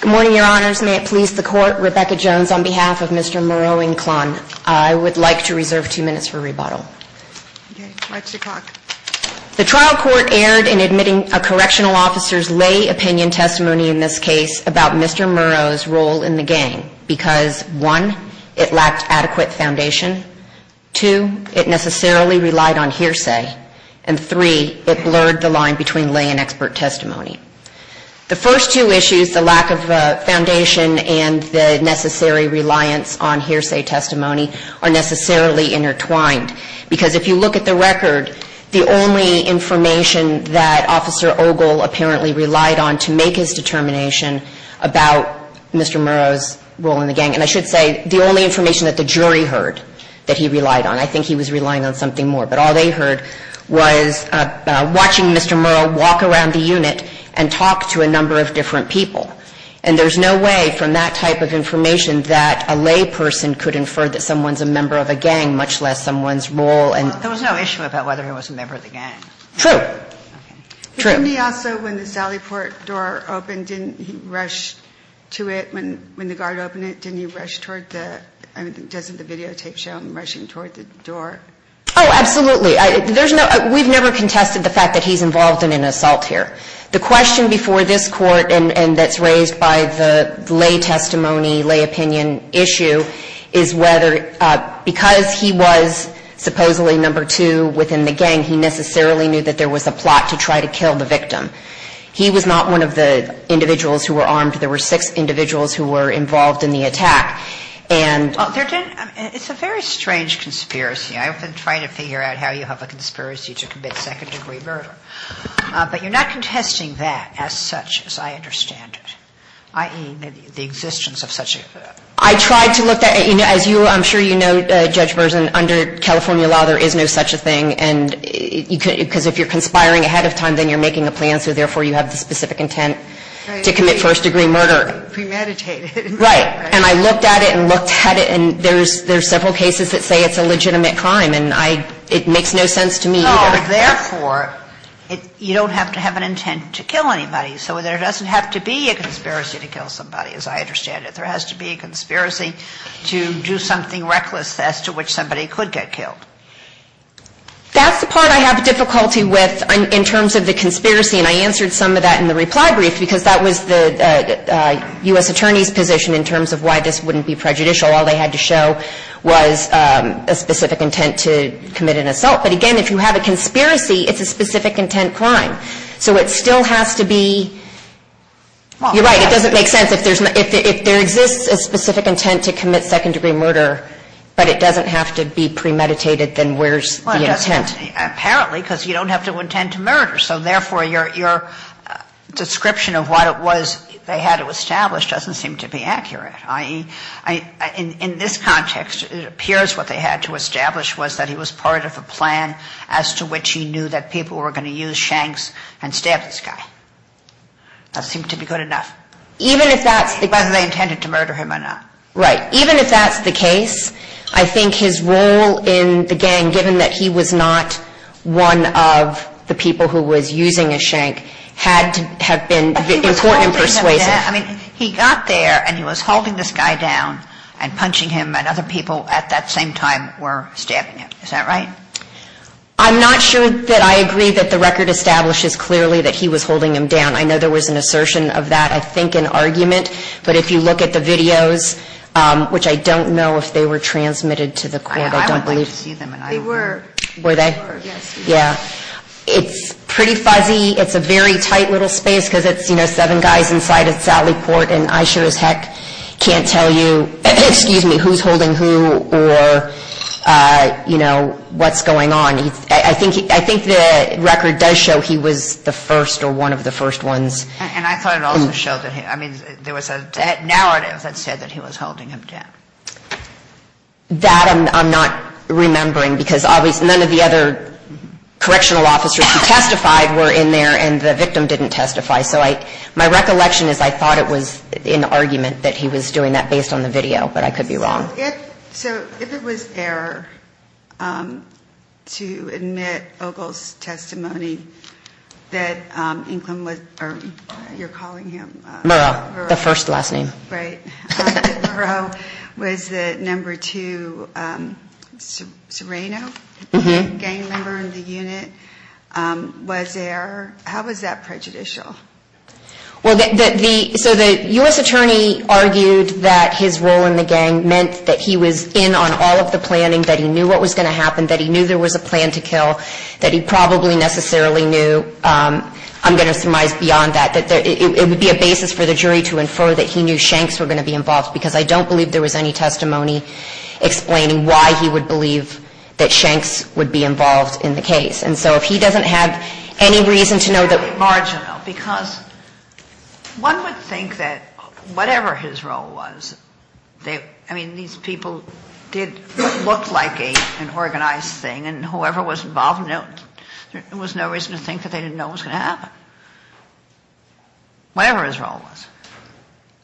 Good morning, Your Honors. May it please the Court, Rebecca Jones on behalf of Mr. Muro-Inclain. I would like to reserve two minutes for rebuttal. The trial court erred in admitting a correctional officer's lay opinion testimony in this case about Mr. Muro's role in the gang because, one, it lacked adequate foundation, two, it necessarily relied on hearsay, and three, it blurred the line between lay and expert testimony. The first two issues, the lack of foundation and the necessary reliance on hearsay testimony, are necessarily intertwined because if you look at the record, the only information that Officer Ogle apparently relied on to make his determination about Mr. Muro's role in the gang, and I should say the only information that the jury heard that he relied on, I think he was relying on something more, but all they heard was watching Mr. Muro walk around the unit and talk to a number of different people, and there's no way from that type of information that a lay person could infer that someone's a member of a gang, much less someone's role in the gang. True. True. Didn't he also, when the Sally Port door opened, didn't he rush to it? When the guard opened it, didn't he rush toward the, I mean, doesn't the videotape show him rushing toward the door? Oh, absolutely. There's no, we've never contested the fact that he's involved in an assault here. The question before this Court, and that's raised by the lay testimony, lay opinion issue, is whether, because he was a victim, he was not one of the individuals who were armed. There were six individuals who were involved in the attack. It's a very strange conspiracy. I've been trying to figure out how you have a conspiracy to commit second-degree murder, but you're not contesting that as such, as I understand it, i.e., the existence of such a murder. I tried to look at, you know, as you, I'm sure you know, Judge Berzin, under California law, there is no such a thing, and you could, because if you're conspiring ahead of time, then you're making a plan, so therefore you have the specific intent to commit first-degree murder. Right. And I looked at it and looked at it, and there's several cases that say it's a legitimate crime, and I, it makes no sense to me either. No, therefore, you don't have to have an intent to kill anybody, so there doesn't have to be a conspiracy to kill somebody, as I understand it. There has to be a conspiracy to do something reckless as to which somebody could get killed. That's the part I have difficulty with in terms of the conspiracy, and I answered some of that in the reply brief, because that was the U.S. Attorney's position in terms of why this wouldn't be prejudicial. All they had to show was a specific intent to commit an assault. But again, if you have a conspiracy, it's a specific intent crime. So it still has to be, you're right, it doesn't make sense. If there's, if there exists a specific intent to commit second-degree murder, but it doesn't have to be premeditated, then where's the intent? Well, it doesn't, apparently, because you don't have to intend to murder, so therefore your description of what it was they had to establish doesn't seem to be accurate. In this context, it appears what they had to establish was that it was part of a plan as to which he knew that people were going to use shanks and stab this guy. That seemed to be good enough. Even if that's the case. Whether they intended to murder him or not. Right. Even if that's the case, I think his role in the gang, given that he was not one of the people who was using a shank, had to have been important and persuasive. I mean, he got there, and he was holding this guy down and punching him, and other people at that same time were stabbing him. Is that right? I'm not sure that I agree that the record establishes clearly that he was holding him down. I know there was an assertion of that, I think an argument, but if you look at the videos, which I don't know if they were transmitted to the court, I don't believe. I would like to see them. They were. Were they? Yes. Yeah. It's pretty fuzzy. It's a very tight little space because it's, you know, seven guys inside at Sally Court, and I sure as heck can't tell you, excuse me, who's holding who or, you know, what's going on. I think the record does show he was the first or one of the first ones. And I thought it also showed that he, I mean, there was a narrative that said that he was holding him down. That I'm not remembering because obviously none of the other correctional officers who I thought it was an argument that he was doing that based on the video, but I could be wrong. So if it was error to admit Ogle's testimony that Inglin was, or you're calling him? Murrow, the first last name. Right. Murrow was the number two Sereno gang member in the unit. Was there, how was that prejudicial? So the U.S. attorney argued that his role in the gang meant that he was in on all of the planning, that he knew what was going to happen, that he knew there was a plan to kill, that he probably necessarily knew, I'm going to surmise beyond that, that it would be a basis for the jury to infer that he knew Shanks were going to be involved, because I don't believe there was any testimony explaining why he would believe that Shanks would be involved in the case. And so if he doesn't have any reason to know that- Marginal, because one would think that whatever his role was, I mean, these people did look like an organized thing, and whoever was involved, there was no reason to think that they didn't know what was going to happen. Whatever his role was.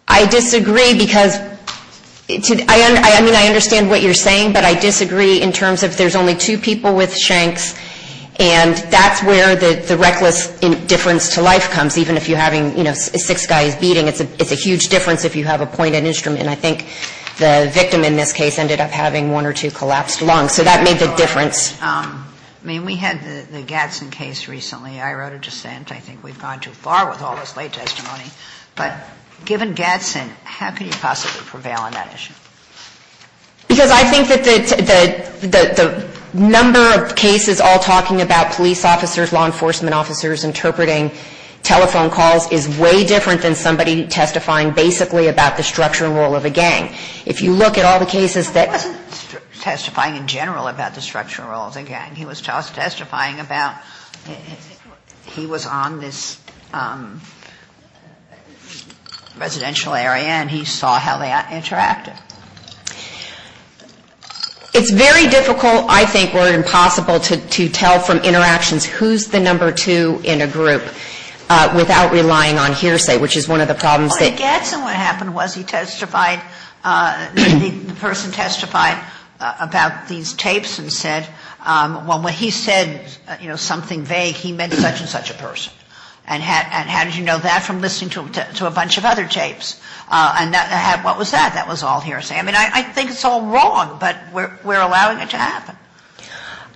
I disagree because, I mean, I understand what you're saying, but I disagree in terms of there's only two people with Shanks, and that's where the reckless difference to life comes, even if you're having, you know, six guys beating. It's a huge difference if you have a pointed instrument, and I think the victim in this case ended up having one or two collapsed lungs, so that made the difference. I mean, we had the Gadsden case recently. I wrote a dissent. I think we've gone too far with all this late testimony, but given Gadsden, how could he possibly prevail on that issue? Because I think that the number of cases all talking about police officers, law enforcement officers interpreting telephone calls is way different than somebody testifying basically about the structure and role of a gang. If you look at all the cases that- He wasn't testifying in general about the structure and role of the gang. He was testifying about he was on this residential area, and he saw how they interacted. It's very difficult, I think, or impossible to tell from interactions who's the number two in a group without relying on hearsay, which is one of the problems that- Well, in Gadsden what happened was he testified, the person testified about these Well, when he said something vague, he meant such and such a person. And how did you know that from listening to a bunch of other tapes? And what was that? That was all hearsay. I mean, I think it's all wrong, but we're allowing it to happen.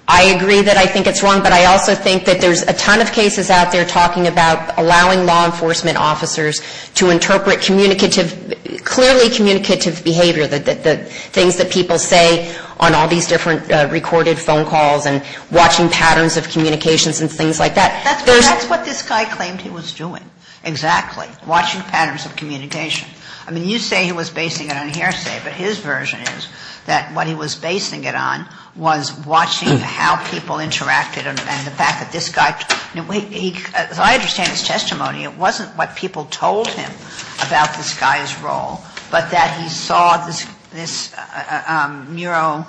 I agree that I think it's wrong, but I also think that there's a ton of cases out there talking about allowing law enforcement officers to interpret communicative, clearly communicative behavior, the things that people say on all these different recorded phone calls and watching patterns of communications and things like that. That's what this guy claimed he was doing. Exactly. Watching patterns of communication. I mean, you say he was basing it on hearsay, but his version is that what he was basing it on was watching how people interacted and the fact that this guy- As I understand his testimony, it wasn't what people told him about this guy's role, but that he saw this mural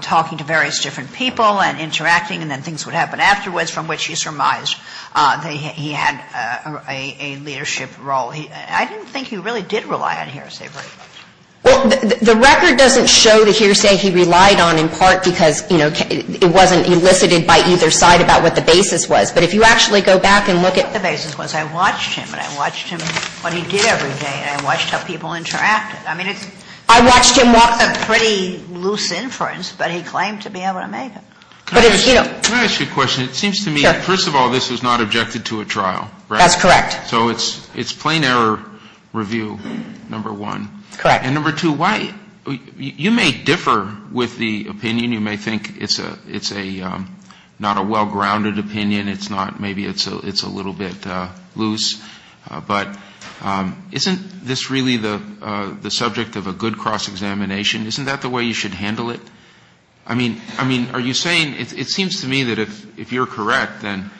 talking to various different people and interacting and then things would happen afterwards, from which he surmised that he had a leadership role. I didn't think he really did rely on hearsay very much. Well, the record doesn't show the hearsay he relied on in part because, you know, it wasn't elicited by either side about what the basis was. But if you actually go back and look at- The basis was I watched him, and I watched him, what he did every day, and I watched how people interacted. I mean, I watched him walk the pretty loose inference, but he claimed to be able to make it. Can I ask you a question? It seems to me that, first of all, this was not objected to at trial. That's correct. So it's plain error review, number one. Correct. And number two, you may differ with the opinion. You may think it's not a well-grounded opinion. It's not. Maybe it's a little bit loose. But isn't this really the subject of a good cross-examination? Isn't that the way you should handle it? I mean, are you saying- It seems to me that if you're correct, then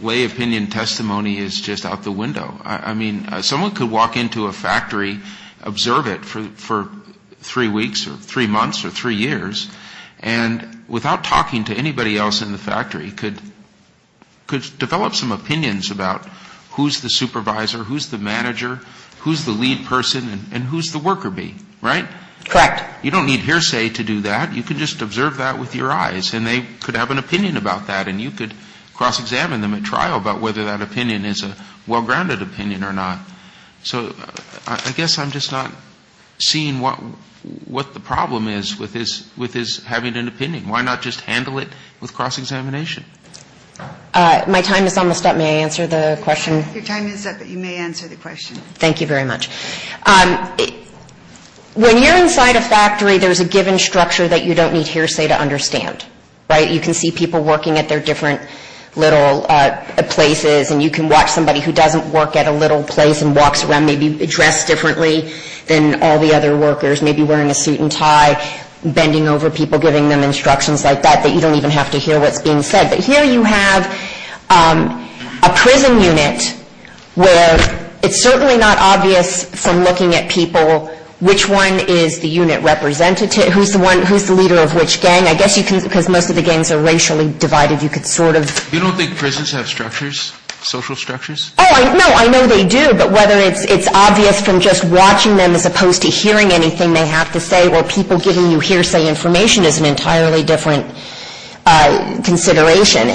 lay opinion testimony is just out the window. I mean, someone could walk into a factory, observe it for three weeks or three months or three years, and without talking to anybody else in the factory, could develop some opinions about who's the supervisor, who's the manager, who's the lead person, and who's the worker bee, right? Correct. You don't need hearsay to do that. You can just observe that with your eyes, and they could have an opinion about that, and you could cross-examine them at trial about whether that opinion is a well-grounded opinion or not. So I guess I'm just not seeing what the problem is with his having an opinion. Why not just handle it with cross-examination? My time is almost up. May I answer the question? Your time is up, but you may answer the question. Thank you very much. When you're inside a factory, there's a given structure that you don't need hearsay to understand, right? You can see people working at their different little places, and you can watch somebody who doesn't work at a little place and walks around maybe dressed differently than all the other workers, maybe wearing a suit and tie, bending over people, giving them instructions like that, that you don't even have to hear what's being said. But here you have a prison unit where it's certainly not obvious from looking at people which one is the unit representative, who's the leader of which gang. I guess you can, because most of the gangs are racially divided, you could sort of. You don't think prisons have structures, social structures? Oh, no, I know they do, but whether it's obvious from just watching them as opposed to hearing anything they have to say, well, people giving you hearsay information is an entirely different consideration.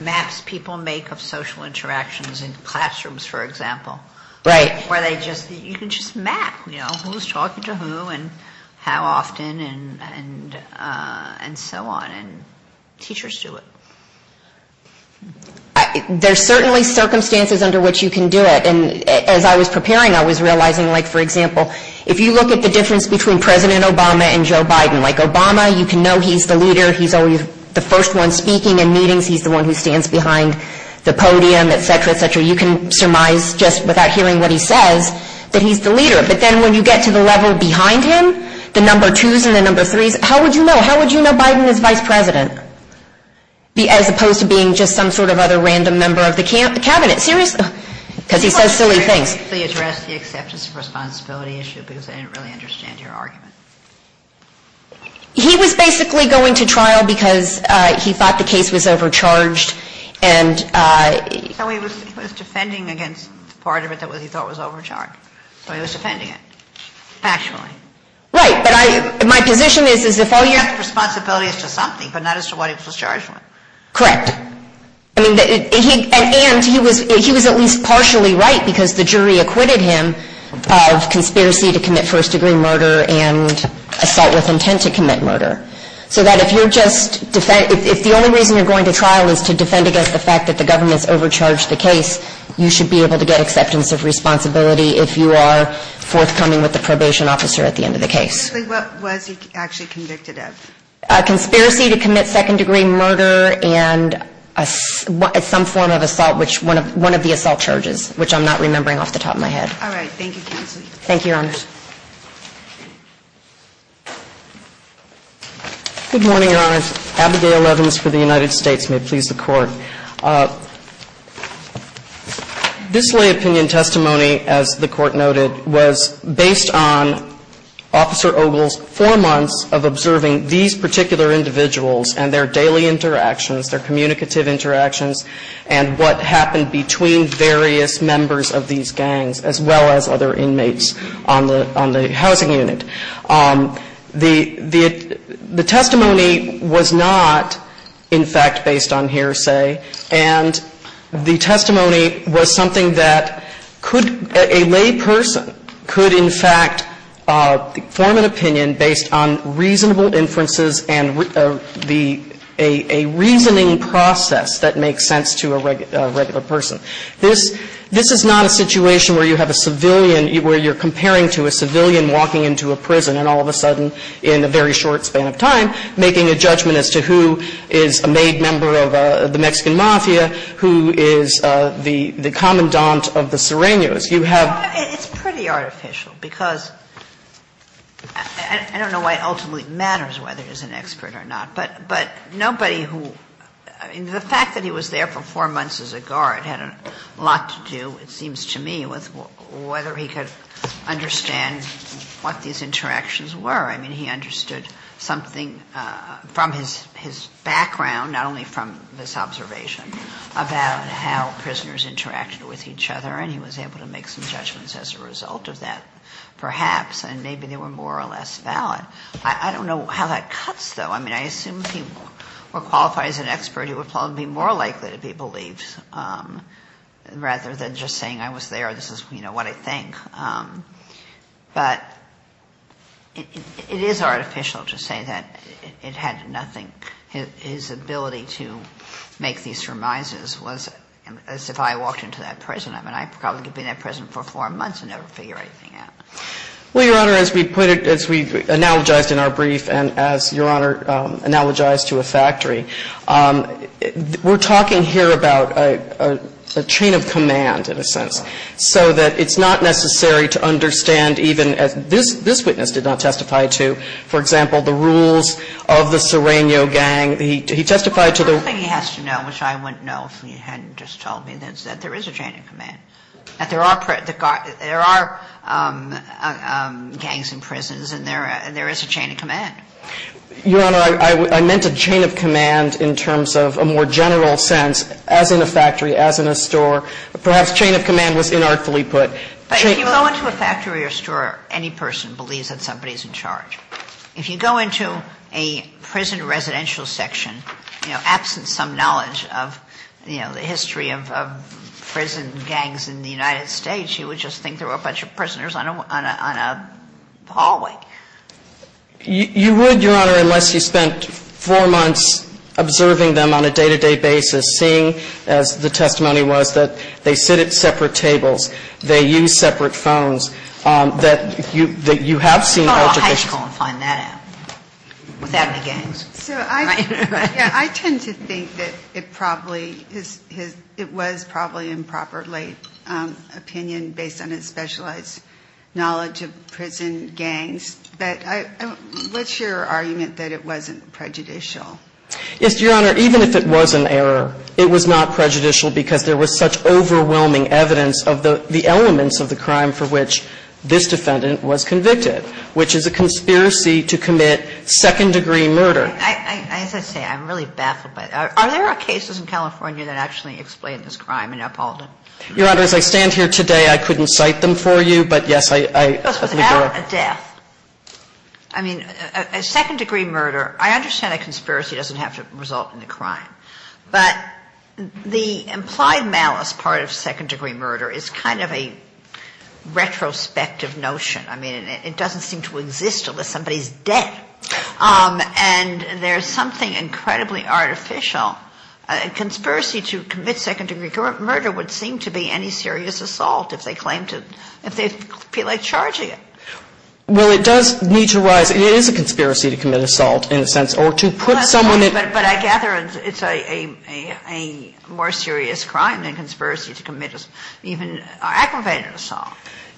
Maps people make of social interactions in classrooms, for example. Right. You can just map, you know, who's talking to who and how often and so on, and teachers do it. There's certainly circumstances under which you can do it. And as I was preparing, I was realizing, like, for example, if you look at the difference between President Obama and Joe Biden, like Obama, you can know he's the leader. He's always the first one speaking in meetings. He's the one who stands behind the podium, et cetera, et cetera. You can surmise just without hearing what he says that he's the leader. But then when you get to the level behind him, the number twos and the number threes, how would you know? How would you know Biden is vice president? As opposed to being just some sort of other random member of the cabinet. Seriously. Because he says silly things. You addressed the acceptance of responsibility issue because I didn't really understand your argument. He was basically going to trial because he thought the case was overcharged. So he was defending against part of it that he thought was overcharged. So he was defending it. Factually. Right. But my position is if all you have to responsibility is to something, but not as to what he was charged with. Correct. And he was at least partially right because the jury acquitted him of conspiracy to commit first degree murder and assault with intent to commit murder. So that if you're just, if the only reason you're going to trial is to defend against the fact that the government's overcharged the case, you should be able to get acceptance of responsibility if you are forthcoming with the probation officer at the end of the case. What was he actually convicted of? Conspiracy to commit second degree murder and some form of assault, which one of the assault charges, which I'm not remembering off the top of my head. All right. Thank you. Thank you, Your Honors. Good morning, Your Honors. Abigail Evans for the United States. May it please the Court. This lay opinion testimony, as the Court noted, was based on Officer Ogle's four months of observing these particular individuals and their daily interactions, their communicative interactions, and what happened between various members of these gangs, as well as other inmates on the housing unit. The testimony was not, in fact, based on hearsay. And the testimony was something that could, a lay person could, in fact, form an opinion based on reasonable inferences and a reasoning process that makes sense to a regular person. This is not a situation where you have a civilian, where you're comparing to a civilian walking into a prison and all of a sudden, in a very short span of time, making a judgment as to who is a maid member of the Mexican Mafia, who is the commandant of the Sirenios. You have – It's pretty artificial, because I don't know why it ultimately matters whether he's an expert or not. But nobody who – the fact that he was there for four months as a guard had a lot to do, it seems to me, with whether he could understand what these interactions were. I mean, he understood something from his background, not only from this observation, about how prisoners interacted with each other. And he was able to make some judgments as a result of that, perhaps. And maybe they were more or less valid. I don't know how that cuts, though. I mean, I assume if he were qualified as an expert, he would probably be more likely to be believed, rather than just saying, I was there, this is what I think. But it is artificial to say that it had nothing – his ability to make these surmises was as if I walked into that prison. I mean, I probably could be in that prison for four months and never figure anything out. Well, Your Honor, as we put it – as we analogized in our brief and as, Your Honor, analogized to a factory, we're talking here about a chain of command, in a sense. So that it's not necessary to understand even – this witness did not testify to, for example, the rules of the Sereno gang. He testified to the – The first thing he has to know, which I wouldn't know if he hadn't just told me, is that there is a chain of command. That there are gangs in prisons and there is a chain of command. Your Honor, I meant a chain of command in terms of a more general sense, as in a factory, as in a store. Perhaps chain of command was inartfully put. But if you go into a factory or store, any person believes that somebody is in charge. If you go into a prison residential section, you know, absent some knowledge of, you know, the history of prison gangs in the United States, you would just think there were a bunch of prisoners on a hallway. You would, Your Honor, unless you spent four months observing them on a day-to-day basis, seeing as the testimony was that they sit at separate tables, they use separate phones, that you have seen altercations. I would call a high school and find that out without any gangs. So I tend to think that it probably is – it was probably improperly opinion based on his specialized knowledge of prison gangs. But what's your argument that it wasn't prejudicial? Yes, Your Honor. Even if it was an error, it was not prejudicial because there was such overwhelming evidence of the elements of the crime for which this defendant was convicted, which is a conspiracy to commit second-degree murder. As I say, I'm really baffled by that. Are there cases in California that actually explain this crime in Uphalden? Your Honor, as I stand here today, I couldn't cite them for you, but, yes, I agree. It was without a death. I mean, a second-degree murder, I understand a conspiracy doesn't have to result in a crime. But the implied malice part of second-degree murder is kind of a retrospective notion. I mean, it doesn't seem to exist unless somebody's dead. And there's something incredibly artificial. A conspiracy to commit second-degree murder would seem to be any serious assault if they claim to, if they feel like charging it. Well, it does need to arise. It is a conspiracy to commit assault, in a sense, or to put someone in. But I gather it's a more serious crime than conspiracy to commit even aggravated assault.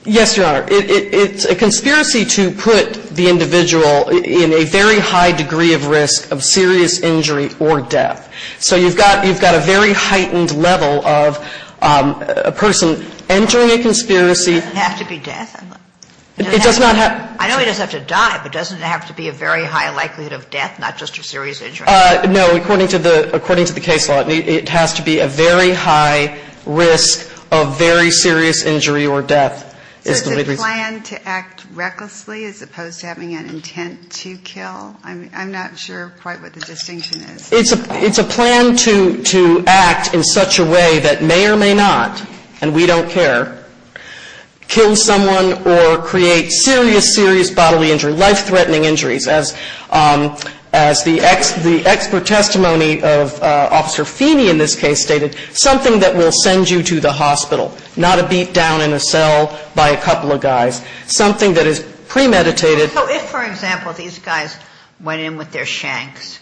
Yes, Your Honor. It's a conspiracy to put the individual in a very high degree of risk of serious injury or death. So you've got a very heightened level of a person entering a conspiracy. It doesn't have to be death. It does not have to be. I know he doesn't have to die, but doesn't it have to be a very high likelihood of death, not just a serious injury? No. According to the case law, it has to be a very high risk of very serious injury or death is the reason. So is it planned to act recklessly as opposed to having an intent to kill? I'm not sure quite what the distinction is. It's a plan to act in such a way that may or may not, and we don't care, kill someone or create serious, serious bodily injury, life-threatening injuries, as the expert testimony of Officer Feeney in this case stated, something that will send you to the hospital, not a beat down in a cell by a couple of guys, something that is premeditated. So if, for example, these guys went in with their shanks,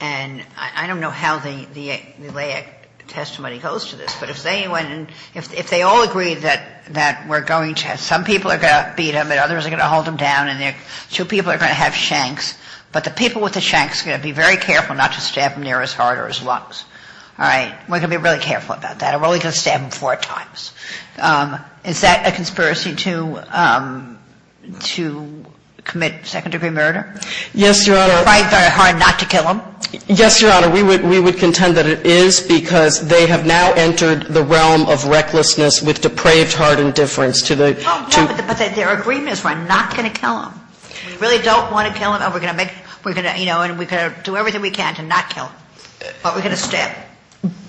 and I don't know how the laic testimony goes to this, but if they went in, if they all agreed that we're going to have, some people are going to beat them and others are going to hold them down and two people are going to have shanks, but the people with the shanks are going to be very careful not to stab them near as hard or as long. All right? We're going to be really careful about that. We're only going to stab them four times. Is that a conspiracy to commit second-degree murder? Yes, Your Honor. To try very hard not to kill them? Yes, Your Honor. We would contend that it is because they have now entered the realm of recklessness with depraved hard indifference to the two. But their agreement is we're not going to kill them. We really don't want to kill them and we're going to make, we're going to, you know, and we're going to do everything we can to not kill them. But we're going to stab.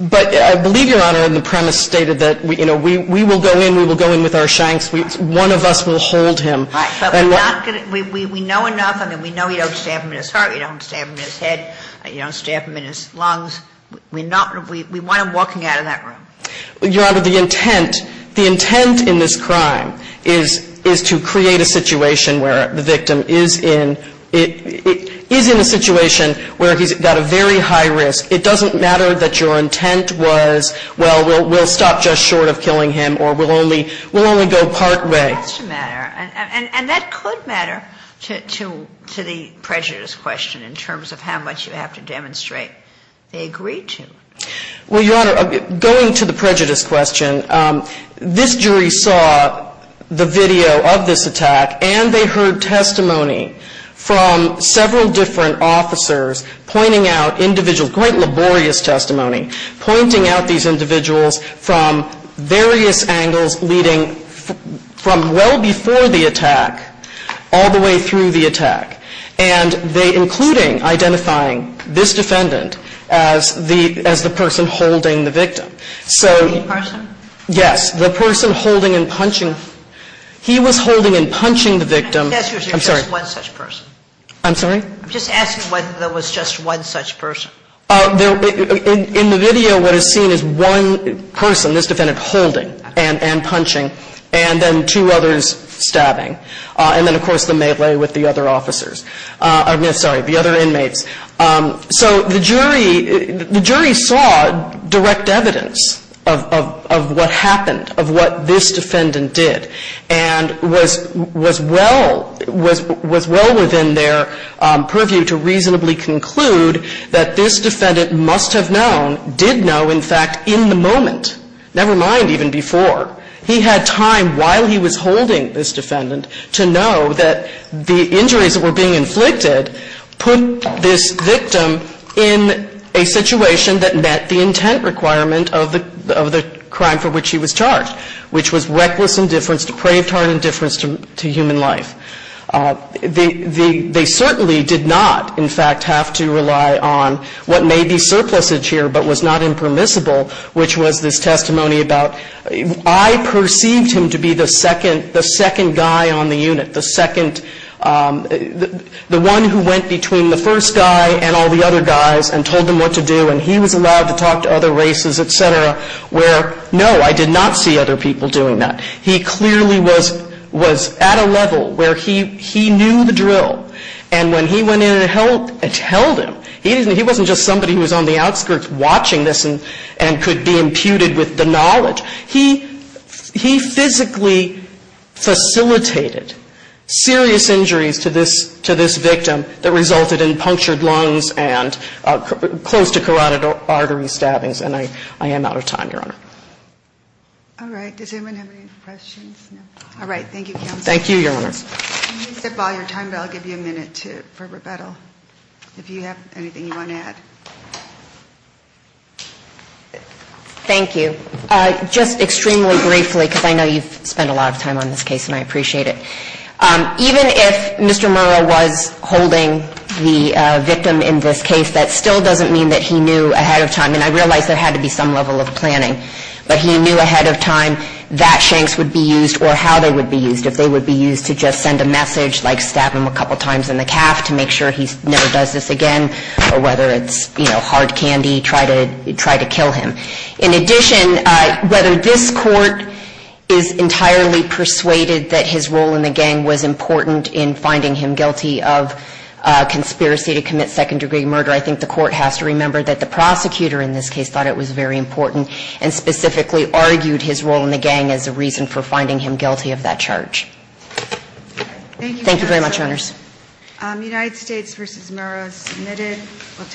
But I believe, Your Honor, in the premise stated that, you know, we will go in, we will go in with our shanks, one of us will hold him. Right. But we're not going to, we know enough, I mean, we know you don't stab him in his heart, you don't stab him in his head, you don't stab him in his lungs. We're not, we want him walking out of that room. Your Honor, the intent, the intent in this crime is to create a situation where the victim is in, is in a situation where he's got a very high risk. It doesn't matter that your intent was, well, we'll stop just short of killing him or we'll only, we'll only go partway. It has to matter. And that could matter to, to the prejudice question in terms of how much you have to demonstrate they agreed to. Well, Your Honor, going to the prejudice question, this jury saw the video of this attack and they heard testimony from several different officers pointing out individuals, quite laborious testimony, pointing out these individuals from various angles leading from well before the attack all the way through the attack. And they, including identifying this defendant as the, as the person holding the victim. So the person holding and punching, he was holding and punching the victim. I'm sorry. I'm sorry? I'm just asking whether there was just one such person. There, in the video what is seen is one person, this defendant, holding and, and punching and then two others stabbing. And then, of course, the melee with the other officers. I'm sorry, the other inmates. So the jury, the jury saw direct evidence of, of, of what happened, of what this defendant did and was, was well, was, was well within their purview to reasonably conclude that this defendant must have known, did know, in fact, in the moment, never mind even before. He had time while he was holding this defendant to know that the injuries that were being inflicted put this victim in a situation that met the intent requirement of the, of the crime for which he was charged, which was reckless indifference, depraved heart indifference to, to human life. The, the, they certainly did not, in fact, have to rely on what may be surplusage here but was not impermissible, which was this testimony about, I perceived him to be the second, the second guy on the unit, the second, the one who went between the first guy and all the other guys and told them what to do and he was allowed to talk to other races, et cetera, where no, I did not see other people doing that. He clearly was, was at a level where he, he knew the drill and when he went in and held, and held him, he wasn't just somebody who was on the outskirts watching this and, and could be imputed with the knowledge. He, he physically facilitated serious injuries to this, to this victim that resulted in punctured lungs and close to carotid artery stabbings and I, I am out of time, Your Honor. All right. Does anyone have any questions? No. All right. Thank you, counsel. Thank you, Your Honor. Let me zip all your time but I'll give you a minute to, for rebuttal, if you have anything you want to add. Thank you. Just extremely briefly, because I know you've spent a lot of time on this case and I know you've been a victim in this case, that still doesn't mean that he knew ahead of time, and I realize there had to be some level of planning, but he knew ahead of time that shanks would be used or how they would be used, if they would be used to just send a message like stab him a couple times in the calf to make sure he never does this again or whether it's, you know, hard candy, try to, try to kill him. In addition, whether this court is entirely persuaded that his role in the gang was murder, I think the court has to remember that the prosecutor in this case thought it was very important and specifically argued his role in the gang as a reason for finding him guilty of that charge. Thank you very much, Your Honors. Thank you, counsel. United States v. Murrow, submitted. We'll take a break.